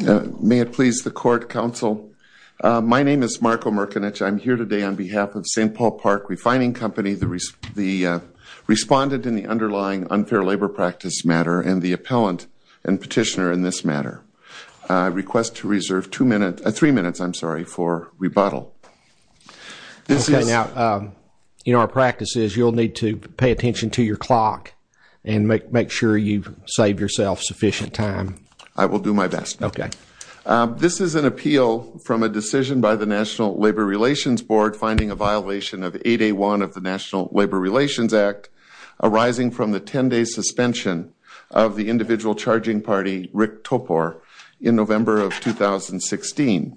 May it please the Court, Counsel? My name is Marco Mirkonich. I'm here today on behalf of St. Paul Park Refining Company, the respondent in the underlying unfair labor practice matter and the appellant and petitioner in this matter. I request to reserve three minutes for rebuttal. Our practice is you'll need to pay attention to your clock and make sure you've saved yourself sufficient time. I will do my best. Okay. This is an appeal from a decision by the National Labor Relations Board finding a violation of 8A.1 of the National Labor Relations Act arising from the 10-day suspension of the individual charging party, Rick Topor, in November of 2016.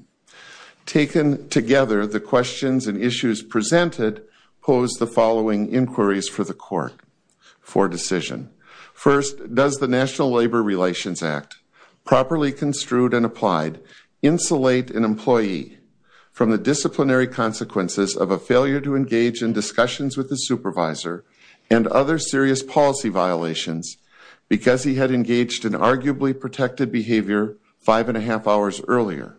Taken together, the questions and issues presented pose the following inquiries for the Court for decision. First, does the National Labor Relations Act properly construed and applied insulate an employee from the disciplinary consequences of a failure to engage in discussions with the supervisor and other serious policy violations because he had engaged in arguably protected behavior five and a half hours earlier?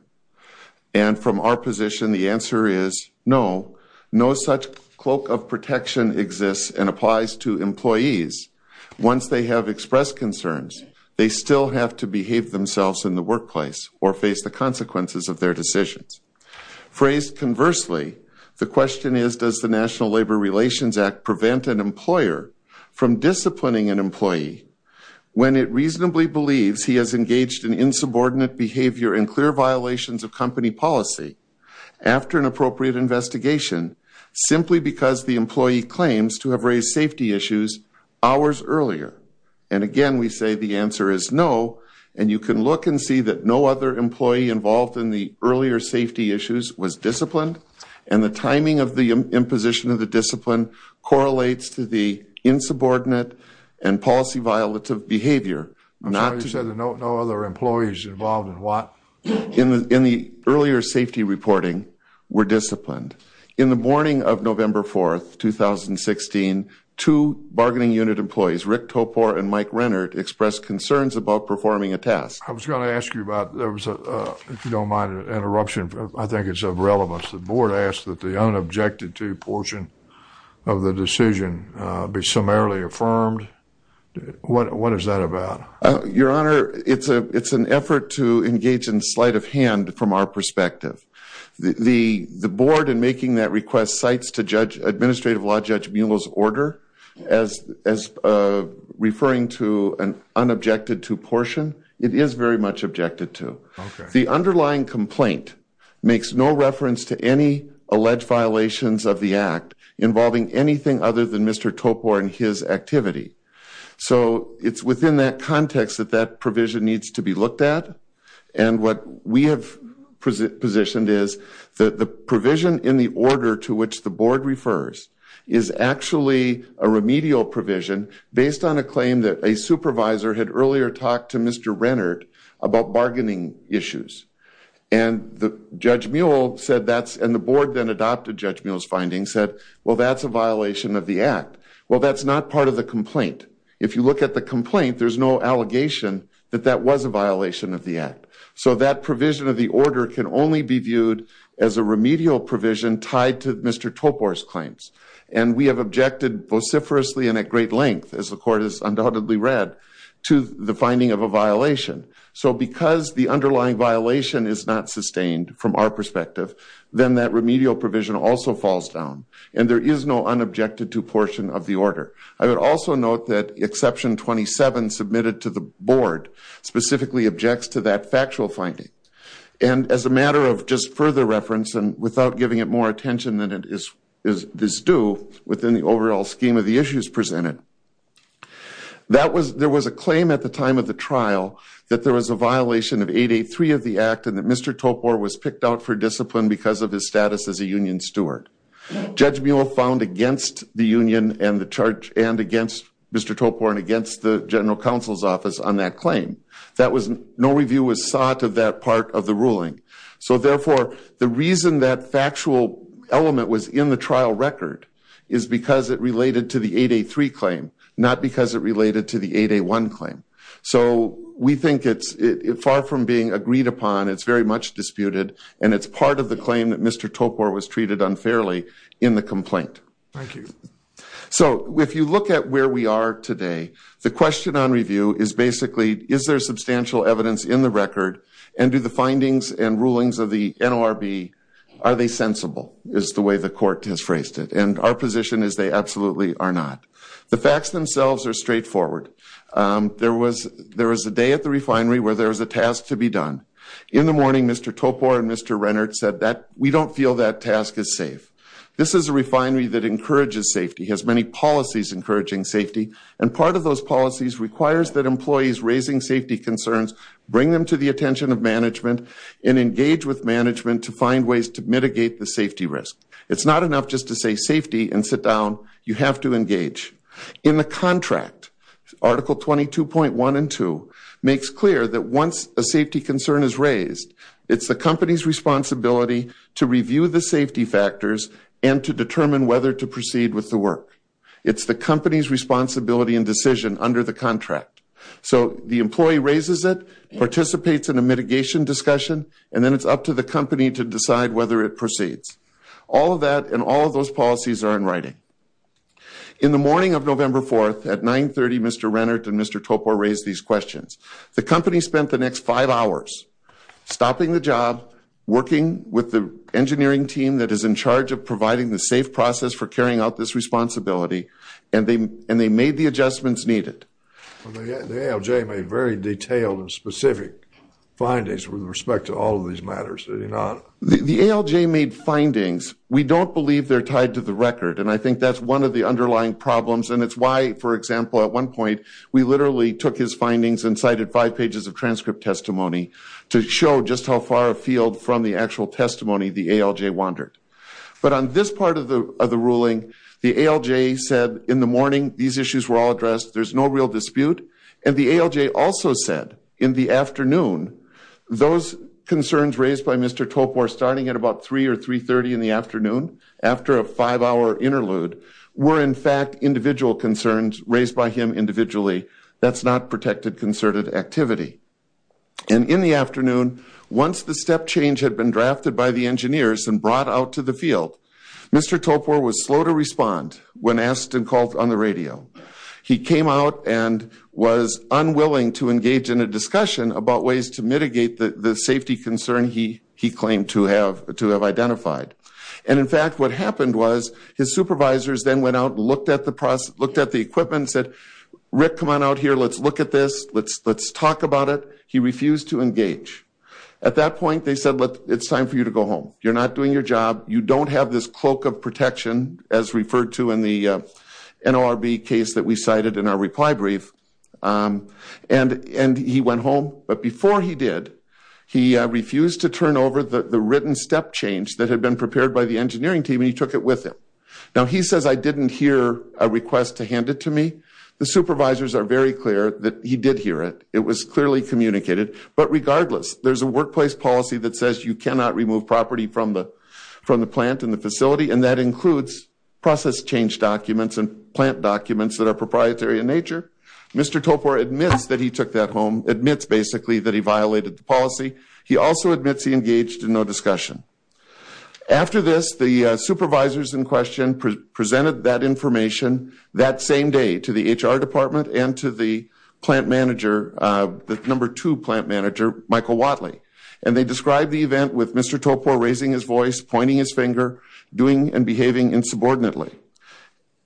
And from our position, the answer is no. No such cloak of protection exists and applies to employees. Once they have expressed concerns, they still have to behave themselves in the workplace or face the consequences of their decisions. Phrased conversely, the question is does the National Labor Relations Act prevent an employer from disciplining an employee when it reasonably believes he has engaged in insubordinate behavior and clear violations of company policy after an appropriate investigation simply because the employee claims to have raised safety issues hours earlier? And again, we say the answer is no. And you can look and see that no other employee involved in the earlier safety issues was disciplined and the timing of the imposition of the discipline correlates to the insubordinate and policy-violative behavior. I'm sorry, you said no other employees involved in what? In the earlier safety reporting were disciplined. In the morning of November 4th, 2016, two bargaining unit employees, Rick Topor and Mike Rennert, expressed concerns about performing a task. I was going to ask you about, if you don't mind an interruption, I think it's of relevance. The board asked that the unobjected to portion of the decision be summarily affirmed. What is that about? Your Honor, it's an effort to engage in sleight of hand from our perspective. The board, in making that request, cites to Administrative Law Judge Mueller's order as referring to an unobjected to portion. It is very much objected to. The underlying complaint makes no reference to any alleged violations of the act involving anything other than Mr. Topor and his activity. It's within that context that that provision needs to be looked at. What we have positioned is that the provision in the order to which the board refers is actually a remedial provision based on a claim that a supervisor had earlier talked to Mr. Rennert about bargaining issues. Judge Mueller said that's, and the board then adopted Judge Mueller's findings, said, well, that's a violation of the act. Well, that's not part of the complaint. If you look at the complaint, there's no allegation that that was a violation of the act. So that provision of the order can only be viewed as a remedial provision tied to Mr. Topor's claims. And we have objected vociferously and at great length, as the court has undoubtedly read, to the finding of a violation. So because the underlying violation is not sustained from our perspective, then that remedial provision also falls down. And there is no unobjected to portion of the order. I would also note that exception 27 submitted to the board specifically objects to that factual finding. And as a matter of just further reference, and without giving it more attention than is due within the overall scheme of the issues presented, there was a claim at the time of the trial that there was a violation of 883 of the act and that Mr. Topor was picked out for discipline because of his status as a union steward. Judge Muell found against the union and against Mr. Topor and against the general counsel's office on that claim. No review was sought of that part of the ruling. So therefore, the reason that factual element was in the trial record is because it related to the 883 claim, not because it related to the 881 claim. So we think it's far from being agreed upon. It's very much disputed. And it's part of the claim that Mr. Topor was treated unfairly in the complaint. Thank you. So if you look at where we are today, the question on review is basically, is there substantial evidence in the record and do the findings and rulings of the NORB, are they sensible, is the way the court has phrased it. And our position is they absolutely are not. The facts themselves are straightforward. There was a day at the refinery where there was a task to be done. In the morning, Mr. Topor and Mr. Rennert said, we don't feel that task is safe. This is a refinery that encourages safety, has many policies encouraging safety, and part of those policies requires that employees raising safety concerns bring them to the attention of management and engage with management to find ways to mitigate the safety risk. It's not enough just to say safety and sit down. You have to engage. In the contract, Article 22.1 and 2, makes clear that once a safety concern is raised, it's the company's responsibility to review the safety factors and to determine whether to proceed with the work. It's the company's responsibility and decision under the contract. So the employee raises it, participates in a mitigation discussion, and then it's up to the company to decide whether it proceeds. All of that and all of those policies are in writing. In the morning of November 4th, at 9.30, Mr. Rennert and Mr. Topor raised these questions. The company spent the next five hours stopping the job, working with the engineering team that is in charge of providing the safe process for carrying out this responsibility, and they made the adjustments needed. The ALJ made very detailed and specific findings with respect to all of these matters. The ALJ made findings. We don't believe they're tied to the record, and I think that's one of the underlying problems, and it's why, for example, at one point we literally took his findings and cited five pages of transcript testimony to show just how far afield from the actual testimony the ALJ wandered. But on this part of the ruling, the ALJ said in the morning these issues were all addressed, there's no real dispute, and the ALJ also said in the afternoon those concerns raised by Mr. Topor starting at about 3 or 3.30 in the afternoon after a five-hour interlude were in fact individual concerns raised by him individually. That's not protected concerted activity. And in the afternoon, once the step change had been drafted by the engineers and brought out to the field, Mr. Topor was slow to respond when asked and called on the radio. He came out and was unwilling to engage in a discussion about ways to mitigate the safety concern he claimed to have identified. And in fact, what happened was his supervisors then went out, looked at the equipment and said, Rick, come on out here, let's look at this, let's talk about it. He refused to engage. At that point they said, look, it's time for you to go home. You're not doing your job. You don't have this cloak of protection as referred to in the NORB case that we cited in our reply brief. And he went home. But before he did, he refused to turn over the written step change that had been prepared by the engineering team, and he took it with him. Now he says, I didn't hear a request to hand it to me. The supervisors are very clear that he did hear it. It was clearly communicated. But regardless, there's a workplace policy that says you cannot remove property from the plant and the facility, and that includes process change documents and plant documents that are proprietary in nature. Mr. Topor admits that he took that home, admits basically that he violated the policy. He also admits he engaged in no discussion. After this, the supervisors in question presented that information that same day to the HR department and to the plant manager, the number two plant manager, Michael Watley. And they described the event with Mr. Topor raising his voice, pointing his finger, doing and behaving insubordinately.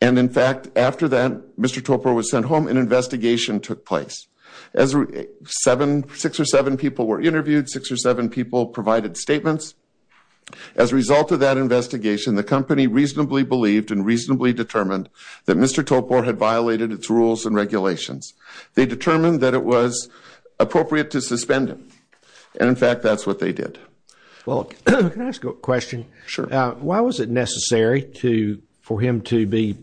And, in fact, after that, Mr. Topor was sent home. An investigation took place. Six or seven people were interviewed. Six or seven people provided statements. As a result of that investigation, the company reasonably believed and reasonably determined that Mr. Topor had violated its rules and regulations. They determined that it was appropriate to suspend him, and, in fact, that's what they did. Can I ask a question? Sure. Why was it necessary for him to be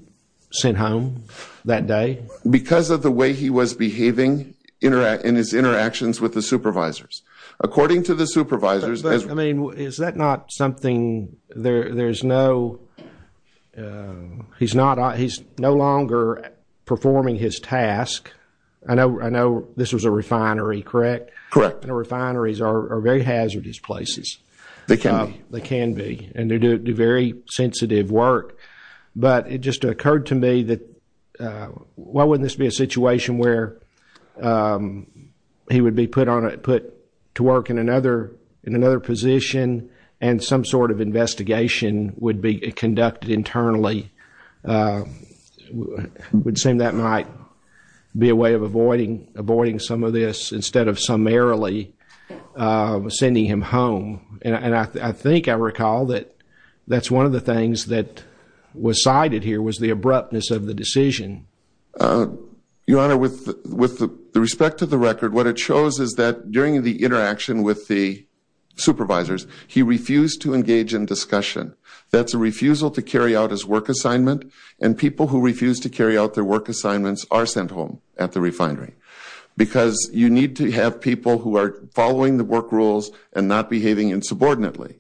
sent home that day? Because of the way he was behaving in his interactions with the supervisors. According to the supervisors— I mean, is that not something—there's no—he's no longer performing his task. I know this was a refinery, correct? Correct. You know, refineries are very hazardous places. They can be. And they do very sensitive work. But it just occurred to me that why wouldn't this be a situation where he would be put to work in another position and some sort of investigation would be conducted internally? It would seem that might be a way of avoiding some of this instead of summarily sending him home. And I think I recall that that's one of the things that was cited here was the abruptness of the decision. Your Honor, with respect to the record, what it shows is that during the interaction with the supervisors, he refused to engage in discussion. That's a refusal to carry out his work assignment, and people who refuse to carry out their work assignments are sent home at the refinery. Because you need to have people who are following the work rules and not behaving insubordinately.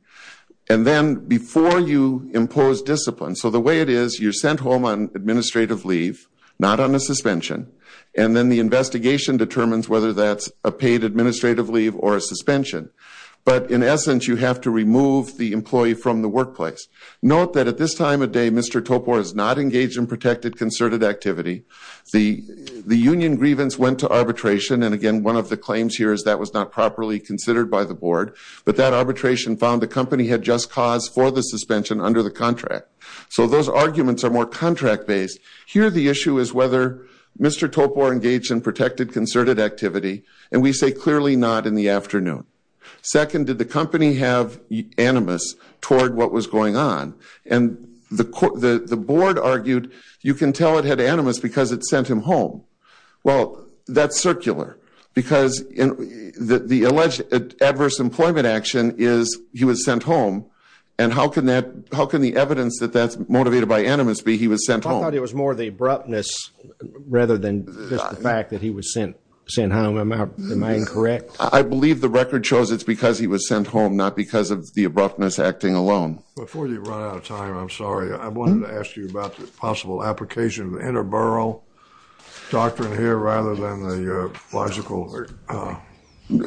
And then before you impose discipline, so the way it is, you're sent home on administrative leave, not on a suspension, and then the investigation determines whether that's a paid administrative leave or a suspension. But in essence, you have to remove the employee from the workplace. Note that at this time of day, Mr. Topor is not engaged in protected, concerted activity. The union grievance went to arbitration, and again, one of the claims here is that was not properly considered by the board, but that arbitration found the company had just cause for the suspension under the contract. So those arguments are more contract-based. Here the issue is whether Mr. Topor engaged in protected, concerted activity, and we say clearly not in the afternoon. Second, did the company have animus toward what was going on? And the board argued you can tell it had animus because it sent him home. Well, that's circular, because the alleged adverse employment action is he was sent home, and how can the evidence that that's motivated by animus be he was sent home? I thought it was more the abruptness rather than just the fact that he was sent home. Am I incorrect? I believe the record shows it's because he was sent home, not because of the abruptness acting alone. Before you run out of time, I'm sorry, I wanted to ask you about the possible application of the inter-borough doctrine here rather than the logical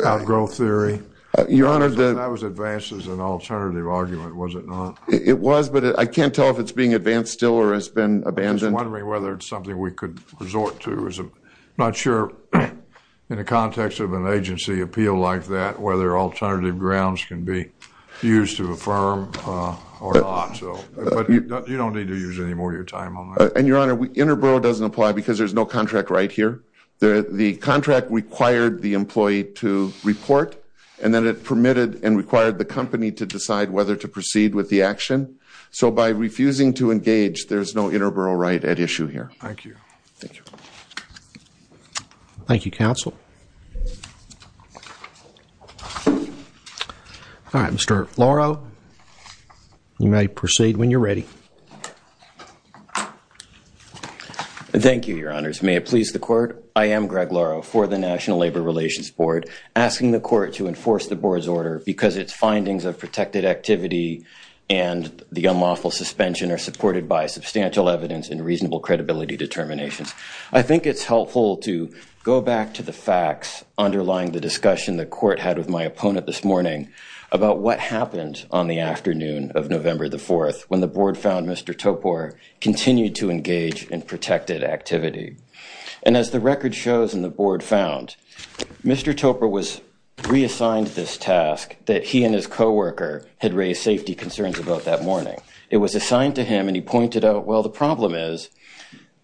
outgrowth theory. Your Honor, that was advanced as an alternative argument, was it not? It was, but I can't tell if it's being advanced still or has been abandoned. I was wondering whether it's something we could resort to. I'm not sure in the context of an agency appeal like that whether alternative grounds can be used to affirm or not. You don't need to use any more of your time on that. Your Honor, inter-borough doesn't apply because there's no contract right here. The contract required the employee to report, and then it permitted and required the company to decide whether to proceed with the action. So by refusing to engage, there's no inter-borough right at issue here. Thank you. Thank you, counsel. All right, Mr. Lauro, you may proceed when you're ready. Thank you, Your Honors. May it please the Court, I am Greg Lauro for the National Labor Relations Board asking the Court to enforce the Board's order because its findings of protected activity and the unlawful suspension are supported by substantial evidence and reasonable credibility determinations. I think it's helpful to go back to the facts underlying the discussion the Court had with my opponent this morning about what happened on the afternoon of November 4th when the Board found Mr. Topor continued to engage in protected activity. And as the record shows and the Board found, Mr. Topor was reassigned this task that he and his co-worker had raised safety concerns about that morning. It was assigned to him, and he pointed out, well, the problem is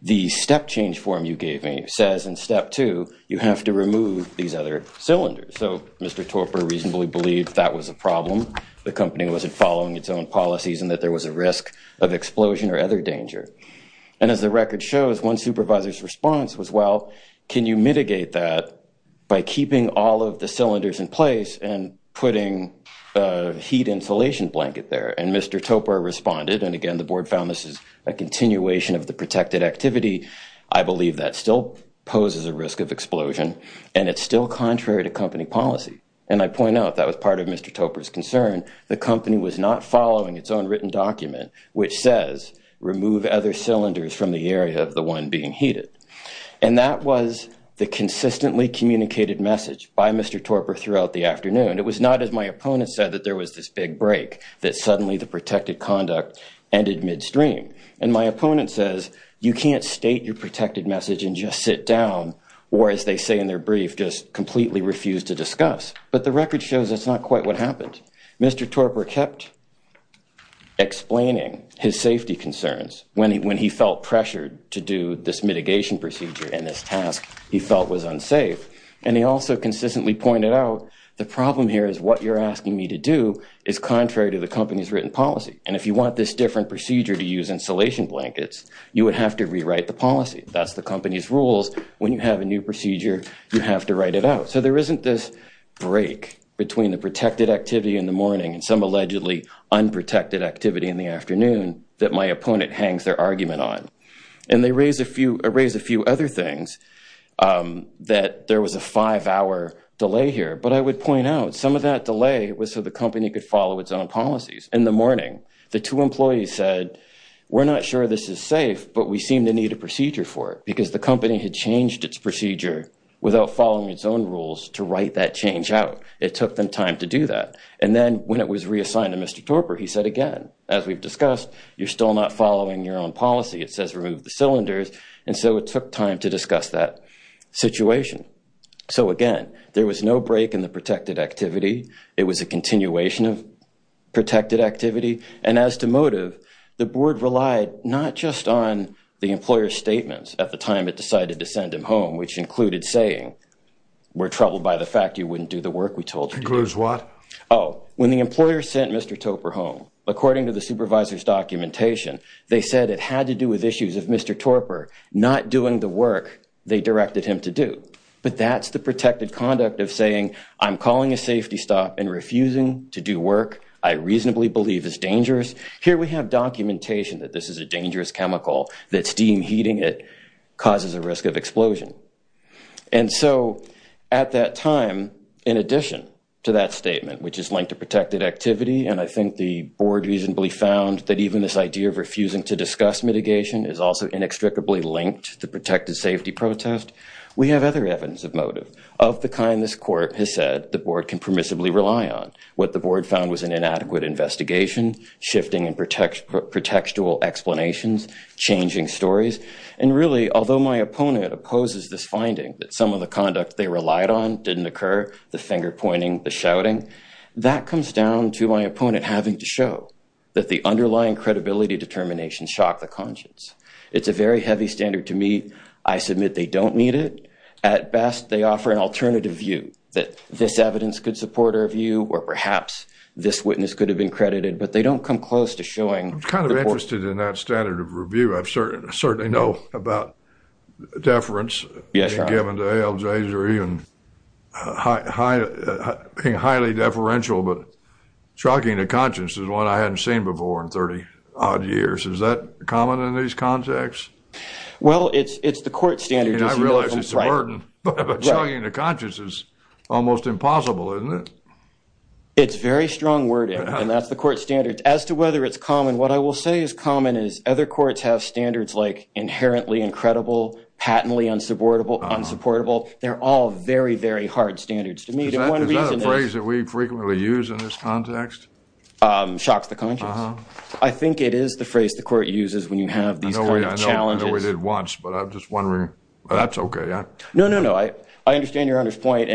the step change form you gave me says in Step 2, you have to remove these other cylinders. So Mr. Topor reasonably believed that was a problem. The company wasn't following its own policies and that there was a risk of explosion or other danger. And as the record shows, one supervisor's response was, well, can you mitigate that by keeping all of the cylinders in place and putting a heat insulation blanket there? And Mr. Topor responded, and again, the Board found this is a continuation of the protected activity. I believe that still poses a risk of explosion, and it's still contrary to company policy. And I point out that was part of Mr. Topor's concern. The company was not following its own written document, which says, remove other cylinders from the area of the one being heated. And that was the consistently communicated message by Mr. Topor throughout the afternoon. It was not, as my opponent said, that there was this big break, that suddenly the protected conduct ended midstream. And my opponent says, you can't state your protected message and just sit down, or as they say in their brief, just completely refuse to discuss. But the record shows that's not quite what happened. Mr. Topor kept explaining his safety concerns when he felt pressured to do this mitigation procedure and this task he felt was unsafe. And he also consistently pointed out the problem here is what you're asking me to do is contrary to the company's written policy. And if you want this different procedure to use insulation blankets, you would have to rewrite the policy. That's the company's rules. When you have a new procedure, you have to write it out. So there isn't this break between the protected activity in the morning and some allegedly unprotected activity in the afternoon that my opponent hangs their argument on. And they raise a few other things, that there was a five-hour delay here. But I would point out, some of that delay was so the company could follow its own policies. In the morning, the two employees said, we're not sure this is safe, but we seem to need a procedure for it. Because the company had changed its procedure without following its own rules to write that change out. It took them time to do that. And then when it was reassigned to Mr. Topor, he said again, as we've discussed, you're still not following your own policy. It says remove the cylinders. And so it took time to discuss that situation. So again, there was no break in the protected activity. It was a continuation of protected activity. And as to motive, the board relied not just on the employer's statements at the time it decided to send him home, which included saying, we're troubled by the fact you wouldn't do the work we told you to do. Includes what? Oh, when the employer sent Mr. Topor home, according to the supervisor's documentation, they said it had to do with issues of Mr. Topor not doing the work they directed him to do. But that's the protected conduct of saying, I'm calling a safety stop and refusing to do work I reasonably believe is dangerous. Here we have documentation that this is a dangerous chemical, that steam heating it causes a risk of explosion. And so at that time, in addition to that statement, which is linked to protected activity, and I think the board reasonably found that even this idea of refusing to discuss mitigation is also inextricably linked to protected safety protest, we have other evidence of motive. Of the kind this court has said the board can permissibly rely on. What the board found was an inadequate investigation, shifting and pretextual explanations, changing stories. And really, although my opponent opposes this finding that some of the conduct they relied on didn't occur, the finger pointing, the shouting, that comes down to my opponent having to show that the underlying credibility determination shocked the conscience. It's a very heavy standard to meet. I submit they don't meet it. At best, they offer an alternative view, that this evidence could support our view, or perhaps this witness could have been credited, but they don't come close to showing the course. I'm kind of interested in that standard of review. I certainly know about deference being given to ALJs or even being highly deferential, but shocking the conscience is one I hadn't seen before in 30-odd years. Is that common in these contexts? Well, it's the court standard. I realize it's a burden, but shocking the conscience is almost impossible, isn't it? It's very strong wording, and that's the court standard. As to whether it's common, what I will say is common is other courts have standards like inherently incredible, patently unsupportable. They're all very, very hard standards to meet. Is that a phrase that we frequently use in this context? Shocks the conscience. I think it is the phrase the court uses when you have these kinds of challenges. I know we did once, but I'm just wondering if that's okay. No, no, no. I understand your Honor's point.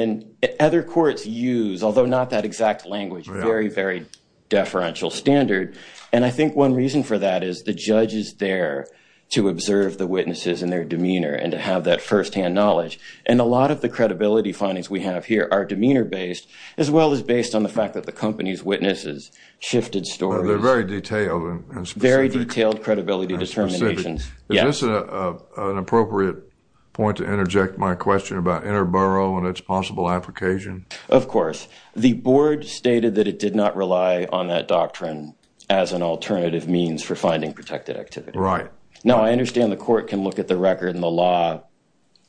Other courts use, although not that exact language, very, very deferential standard. And I think one reason for that is the judge is there to observe the witnesses and their demeanor and to have that firsthand knowledge. And a lot of the credibility findings we have here are demeanor-based, as well as based on the fact that the company's witnesses shifted stories. They're very detailed and specific. Very detailed credibility determinations. Is this an appropriate point to interject my question about inter-borough and its possible application? Of course. The board stated that it did not rely on that doctrine as an alternative means for finding protected activity. Right. Now, I understand the court can look at the record and the law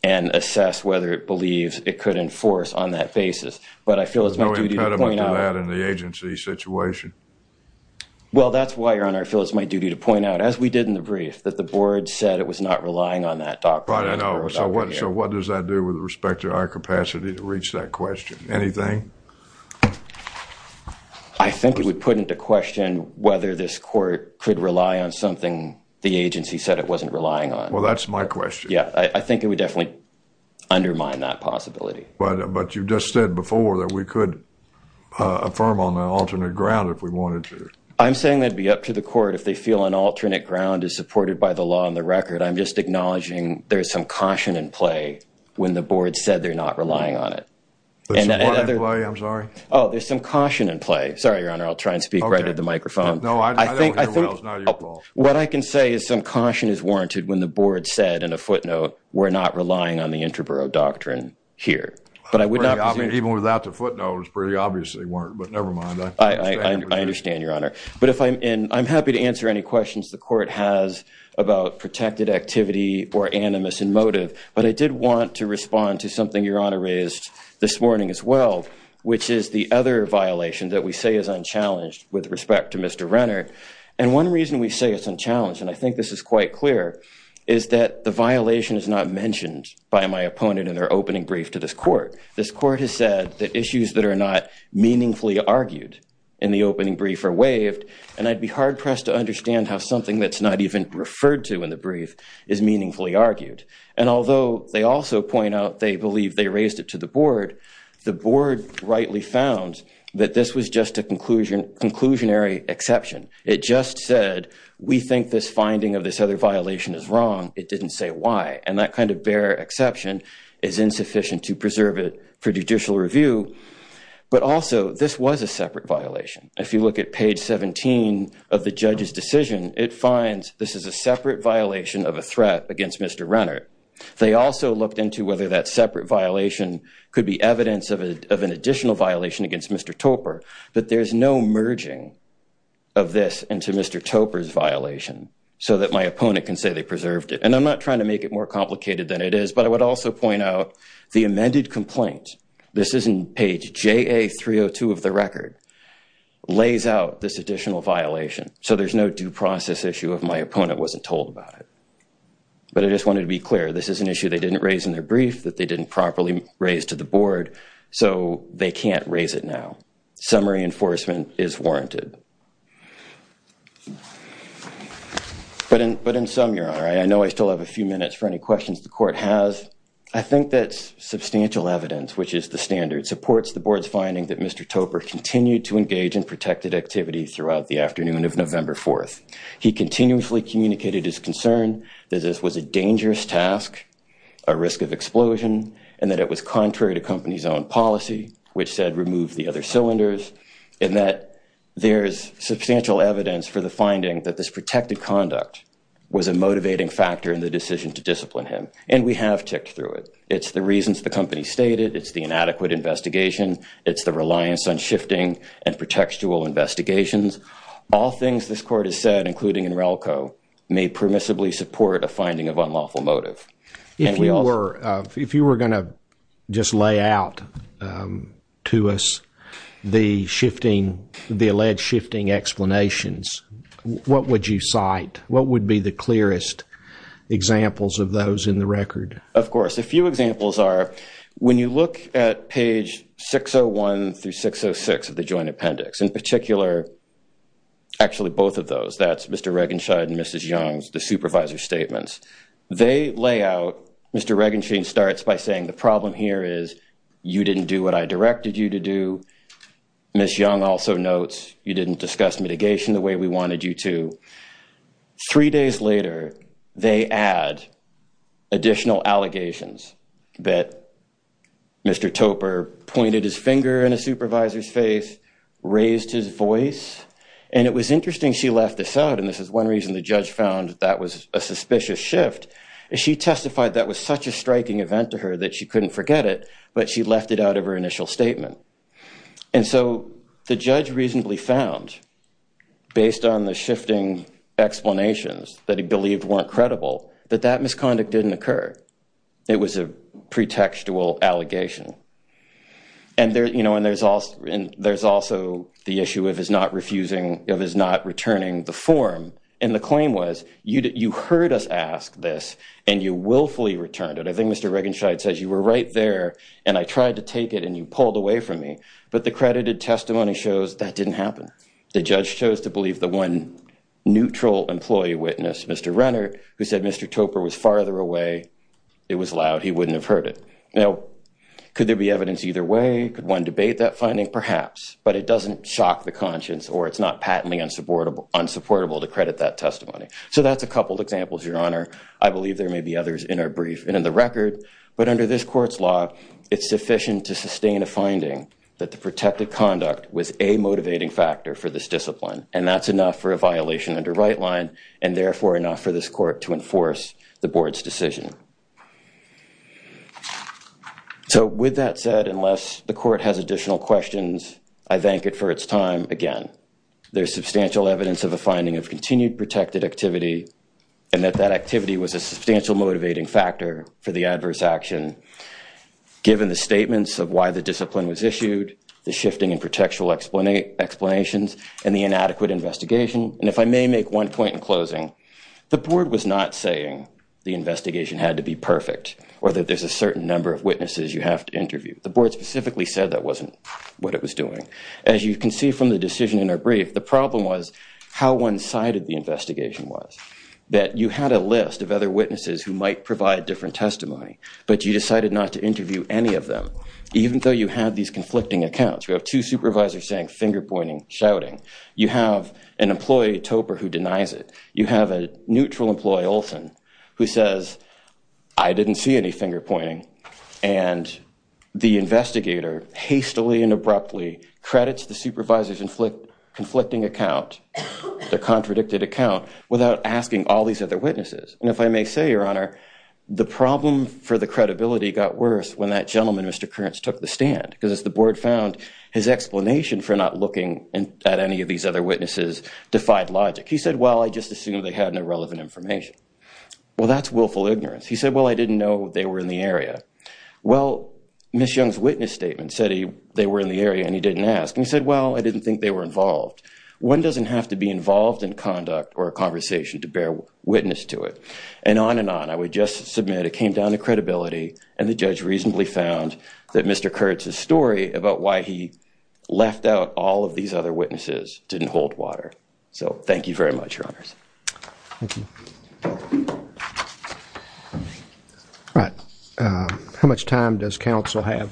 and assess whether it believes it could enforce on that basis. But I feel it's my duty to point out. There's no impediment to that in the agency situation. Well, that's why, Your Honor, I feel it's my duty to point out, as we did in the brief, that the board said it was not relying on that doctrine. Right. I know. So what does that do with respect to our capacity to reach that question? Anything? I think it would put into question whether this court could rely on something the agency said it wasn't relying on. Well, that's my question. Yeah. I think it would definitely undermine that possibility. But you just said before that we could affirm on an alternate ground if we wanted to. I'm saying that it would be up to the court if they feel an alternate ground is supported by the law and the record. I'm just acknowledging there's some caution in play when the board said they're not relying on it. There's some caution in play? I'm sorry? Oh, there's some caution in play. Sorry, Your Honor. I'll try and speak right at the microphone. No, I don't hear what else. Now, your call. What I can say is some caution is warranted when the board said in a footnote, we're not relying on the inter-borough doctrine here. But I would not presume. I mean, even without the footnote, it's pretty obviously warranted. But never mind. I understand, Your Honor. But I'm happy to answer any questions the court has about protected activity or animus in motive. But I did want to respond to something Your Honor raised this morning as well, which is the other violation that we say is unchallenged with respect to Mr. Renner. And one reason we say it's unchallenged, and I think this is quite clear, is that the violation is not mentioned by my opponent in their opening brief to this court. This court has said that issues that are not meaningfully argued in the opening brief are waived. And I'd be hard-pressed to understand how something that's not even referred to in the brief is meaningfully argued. And although they also point out they believe they raised it to the board, the board rightly found that this was just a conclusionary exception. It just said, we think this finding of this other violation is wrong. It didn't say why. And that kind of bare exception is insufficient to preserve it for judicial review. But also, this was a separate violation. If you look at page 17 of the judge's decision, it finds this is a separate violation of a threat against Mr. Renner. They also looked into whether that separate violation could be evidence of an additional violation against Mr. Topper, but there's no merging of this into Mr. Topper's violation so that my opponent can say they preserved it. And I'm not trying to make it more complicated than it is, but I would also point out the amended complaint, this is in page JA302 of the record, lays out this additional violation. So there's no due process issue if my opponent wasn't told about it. But I just wanted to be clear, this is an issue they didn't raise in their brief, that they didn't properly raise to the board, so they can't raise it now. Some reinforcement is warranted. But in sum, Your Honor, I know I still have a few minutes for any questions the court has. I think that substantial evidence, which is the standard, supports the board's finding that Mr. Topper continued to engage in protected activities throughout the afternoon of November 4th. He continuously communicated his concern that this was a dangerous task, a risk of explosion, and that it was contrary to company's own policy, which said remove the other cylinders, and that there's substantial evidence for the finding that this protected conduct was a motivating factor in the decision to discipline him. And we have ticked through it. It's the reasons the company stated. It's the inadequate investigation. It's the reliance on shifting and pretextual investigations. All things this court has said, including in RELCO, may permissibly support a finding of unlawful motive. If you were going to just lay out to us the alleged shifting explanations, what would you cite? What would be the clearest examples of those in the record? Of course, a few examples are when you look at page 601 through 606 of the joint appendix, in particular, actually both of those, that's Mr. Regenscheid and Mrs. Young's, the supervisor's statements, they lay out, Mr. Regenscheid starts by saying the problem here is you didn't do what I directed you to do. Mrs. Young also notes you didn't discuss mitigation the way we wanted you to. Three days later, they add additional allegations that Mr. Topper pointed his finger in a supervisor's face, raised his voice, and it was interesting she left this out, and this is one reason the judge found that was a suspicious shift. She testified that was such a striking event to her that she couldn't forget it, but she left it out of her initial statement. And so the judge reasonably found, based on the shifting explanations that he believed weren't credible, that that misconduct didn't occur. It was a pretextual allegation. And there's also the issue of his not returning the form, and the claim was you heard us ask this, and you willfully returned it. I think Mr. Regenscheid says you were right there, and I tried to take it, and you pulled away from me. But the credited testimony shows that didn't happen. The judge chose to believe the one neutral employee witness, Mr. Renner, who said Mr. Topper was farther away. It was loud. He wouldn't have heard it. Now, could there be evidence either way? Could one debate that finding? Perhaps, but it doesn't shock the conscience, or it's not patently unsupportable to credit that testimony. So that's a couple of examples, Your Honor. I believe there may be others in our brief and in the record, but under this court's law, it's sufficient to sustain a finding that the protected conduct was a motivating factor for this discipline, and that's enough for a violation under right line, and therefore enough for this court to enforce the board's decision. So with that said, unless the court has additional questions, I thank it for its time again. There's substantial evidence of a finding of continued protected activity, and that that activity was a substantial motivating factor for the adverse action. Given the statements of why the discipline was issued, the shifting and protectual explanations, and the inadequate investigation, and if I may make one point in closing, the board was not saying the investigation had to be perfect, or that there's a certain number of witnesses you have to interview. The board specifically said that wasn't what it was doing. As you can see from the decision in our brief, the problem was how one-sided the investigation was, that you had a list of other witnesses who might provide different testimony, but you decided not to interview any of them, even though you had these conflicting accounts. We have two supervisors saying finger-pointing, shouting. You have an employee, Topper, who denies it. You have a neutral employee, Olson, who says, I didn't see any finger-pointing, and the investigator hastily and abruptly credits the supervisor's conflicting account, the contradicted account, without asking all these other witnesses. And if I may say, Your Honor, the problem for the credibility got worse when that gentleman, Mr. Currents, took the stand, because as the board found, his explanation for not looking at any of these other witnesses defied logic. He said, well, I just assumed they had no relevant information. Well, that's willful ignorance. He said, well, I didn't know they were in the area. Well, Ms. Young's witness statement said they were in the area and he didn't ask, and he said, well, I didn't think they were involved. One doesn't have to be involved in conduct or a conversation to bear witness to it. And on and on. I would just submit it came down to credibility, and the judge reasonably found that Mr. Currents' story about why he left out all of these other witnesses didn't hold water. So thank you very much, Your Honors. All right.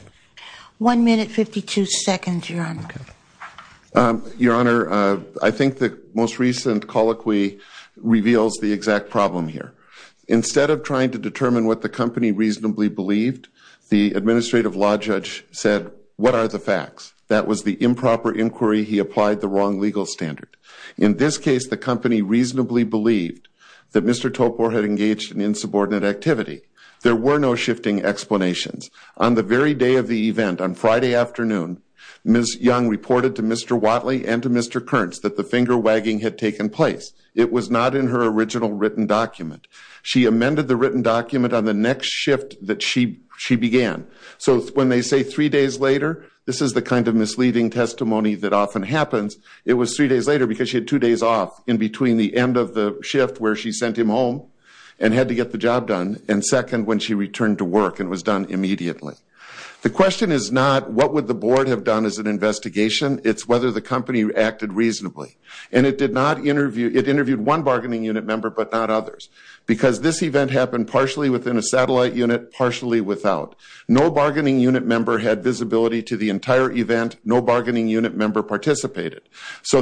One minute, 52 seconds, Your Honor. Your Honor, I think the most recent colloquy reveals the exact problem here. Instead of trying to determine what the company reasonably believed, the administrative law judge said, what are the facts? That was the improper inquiry. He applied the wrong legal standard. In this case, the company reasonably believed that Mr. Topor had engaged in insubordinate activity. There were no shifting explanations. On the very day of the event, on Friday afternoon, Ms. Young reported to Mr. Watley and to Mr. Currents that the finger wagging had taken place. It was not in her original written document. She amended the written document on the next shift that she began. So when they say three days later, this is the kind of misleading testimony that often happens. It was three days later because she had two days off in between the end of the shift where she sent him home and had to get the job done, and second when she returned to work and was done immediately. The question is not what would the board have done as an investigation. It's whether the company acted reasonably. And it interviewed one bargaining unit member but not others because this event happened partially within a satellite unit, partially without. No bargaining unit member had visibility to the entire event. So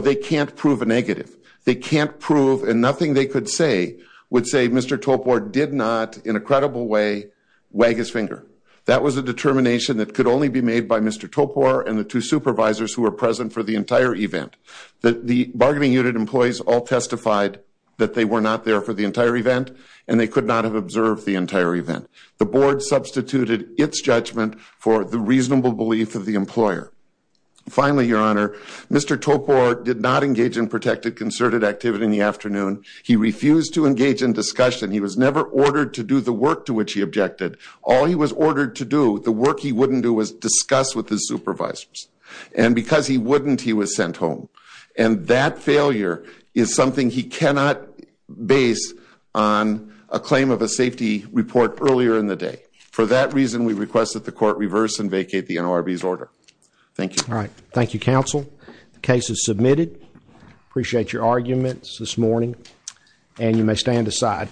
they can't prove a negative. They can't prove and nothing they could say would say Mr. Topor did not, in a credible way, wag his finger. That was a determination that could only be made by Mr. Topor and the two supervisors who were present for the entire event. The bargaining unit employees all testified that they were not there for the entire event and they could not have observed the entire event. The board substituted its judgment for the reasonable belief of the employer. Finally, Your Honor, Mr. Topor did not engage in protected concerted activity in the afternoon. He refused to engage in discussion. He was never ordered to do the work to which he objected. All he was ordered to do, the work he wouldn't do, was discuss with his supervisors. And because he wouldn't, he was sent home. And that failure is something he cannot base on a claim of a safety report earlier in the day. For that reason, we request that the court reverse and vacate the NORB's order. Thank you. All right. Thank you, counsel. The case is submitted. Appreciate your arguments this morning. And you may stand aside.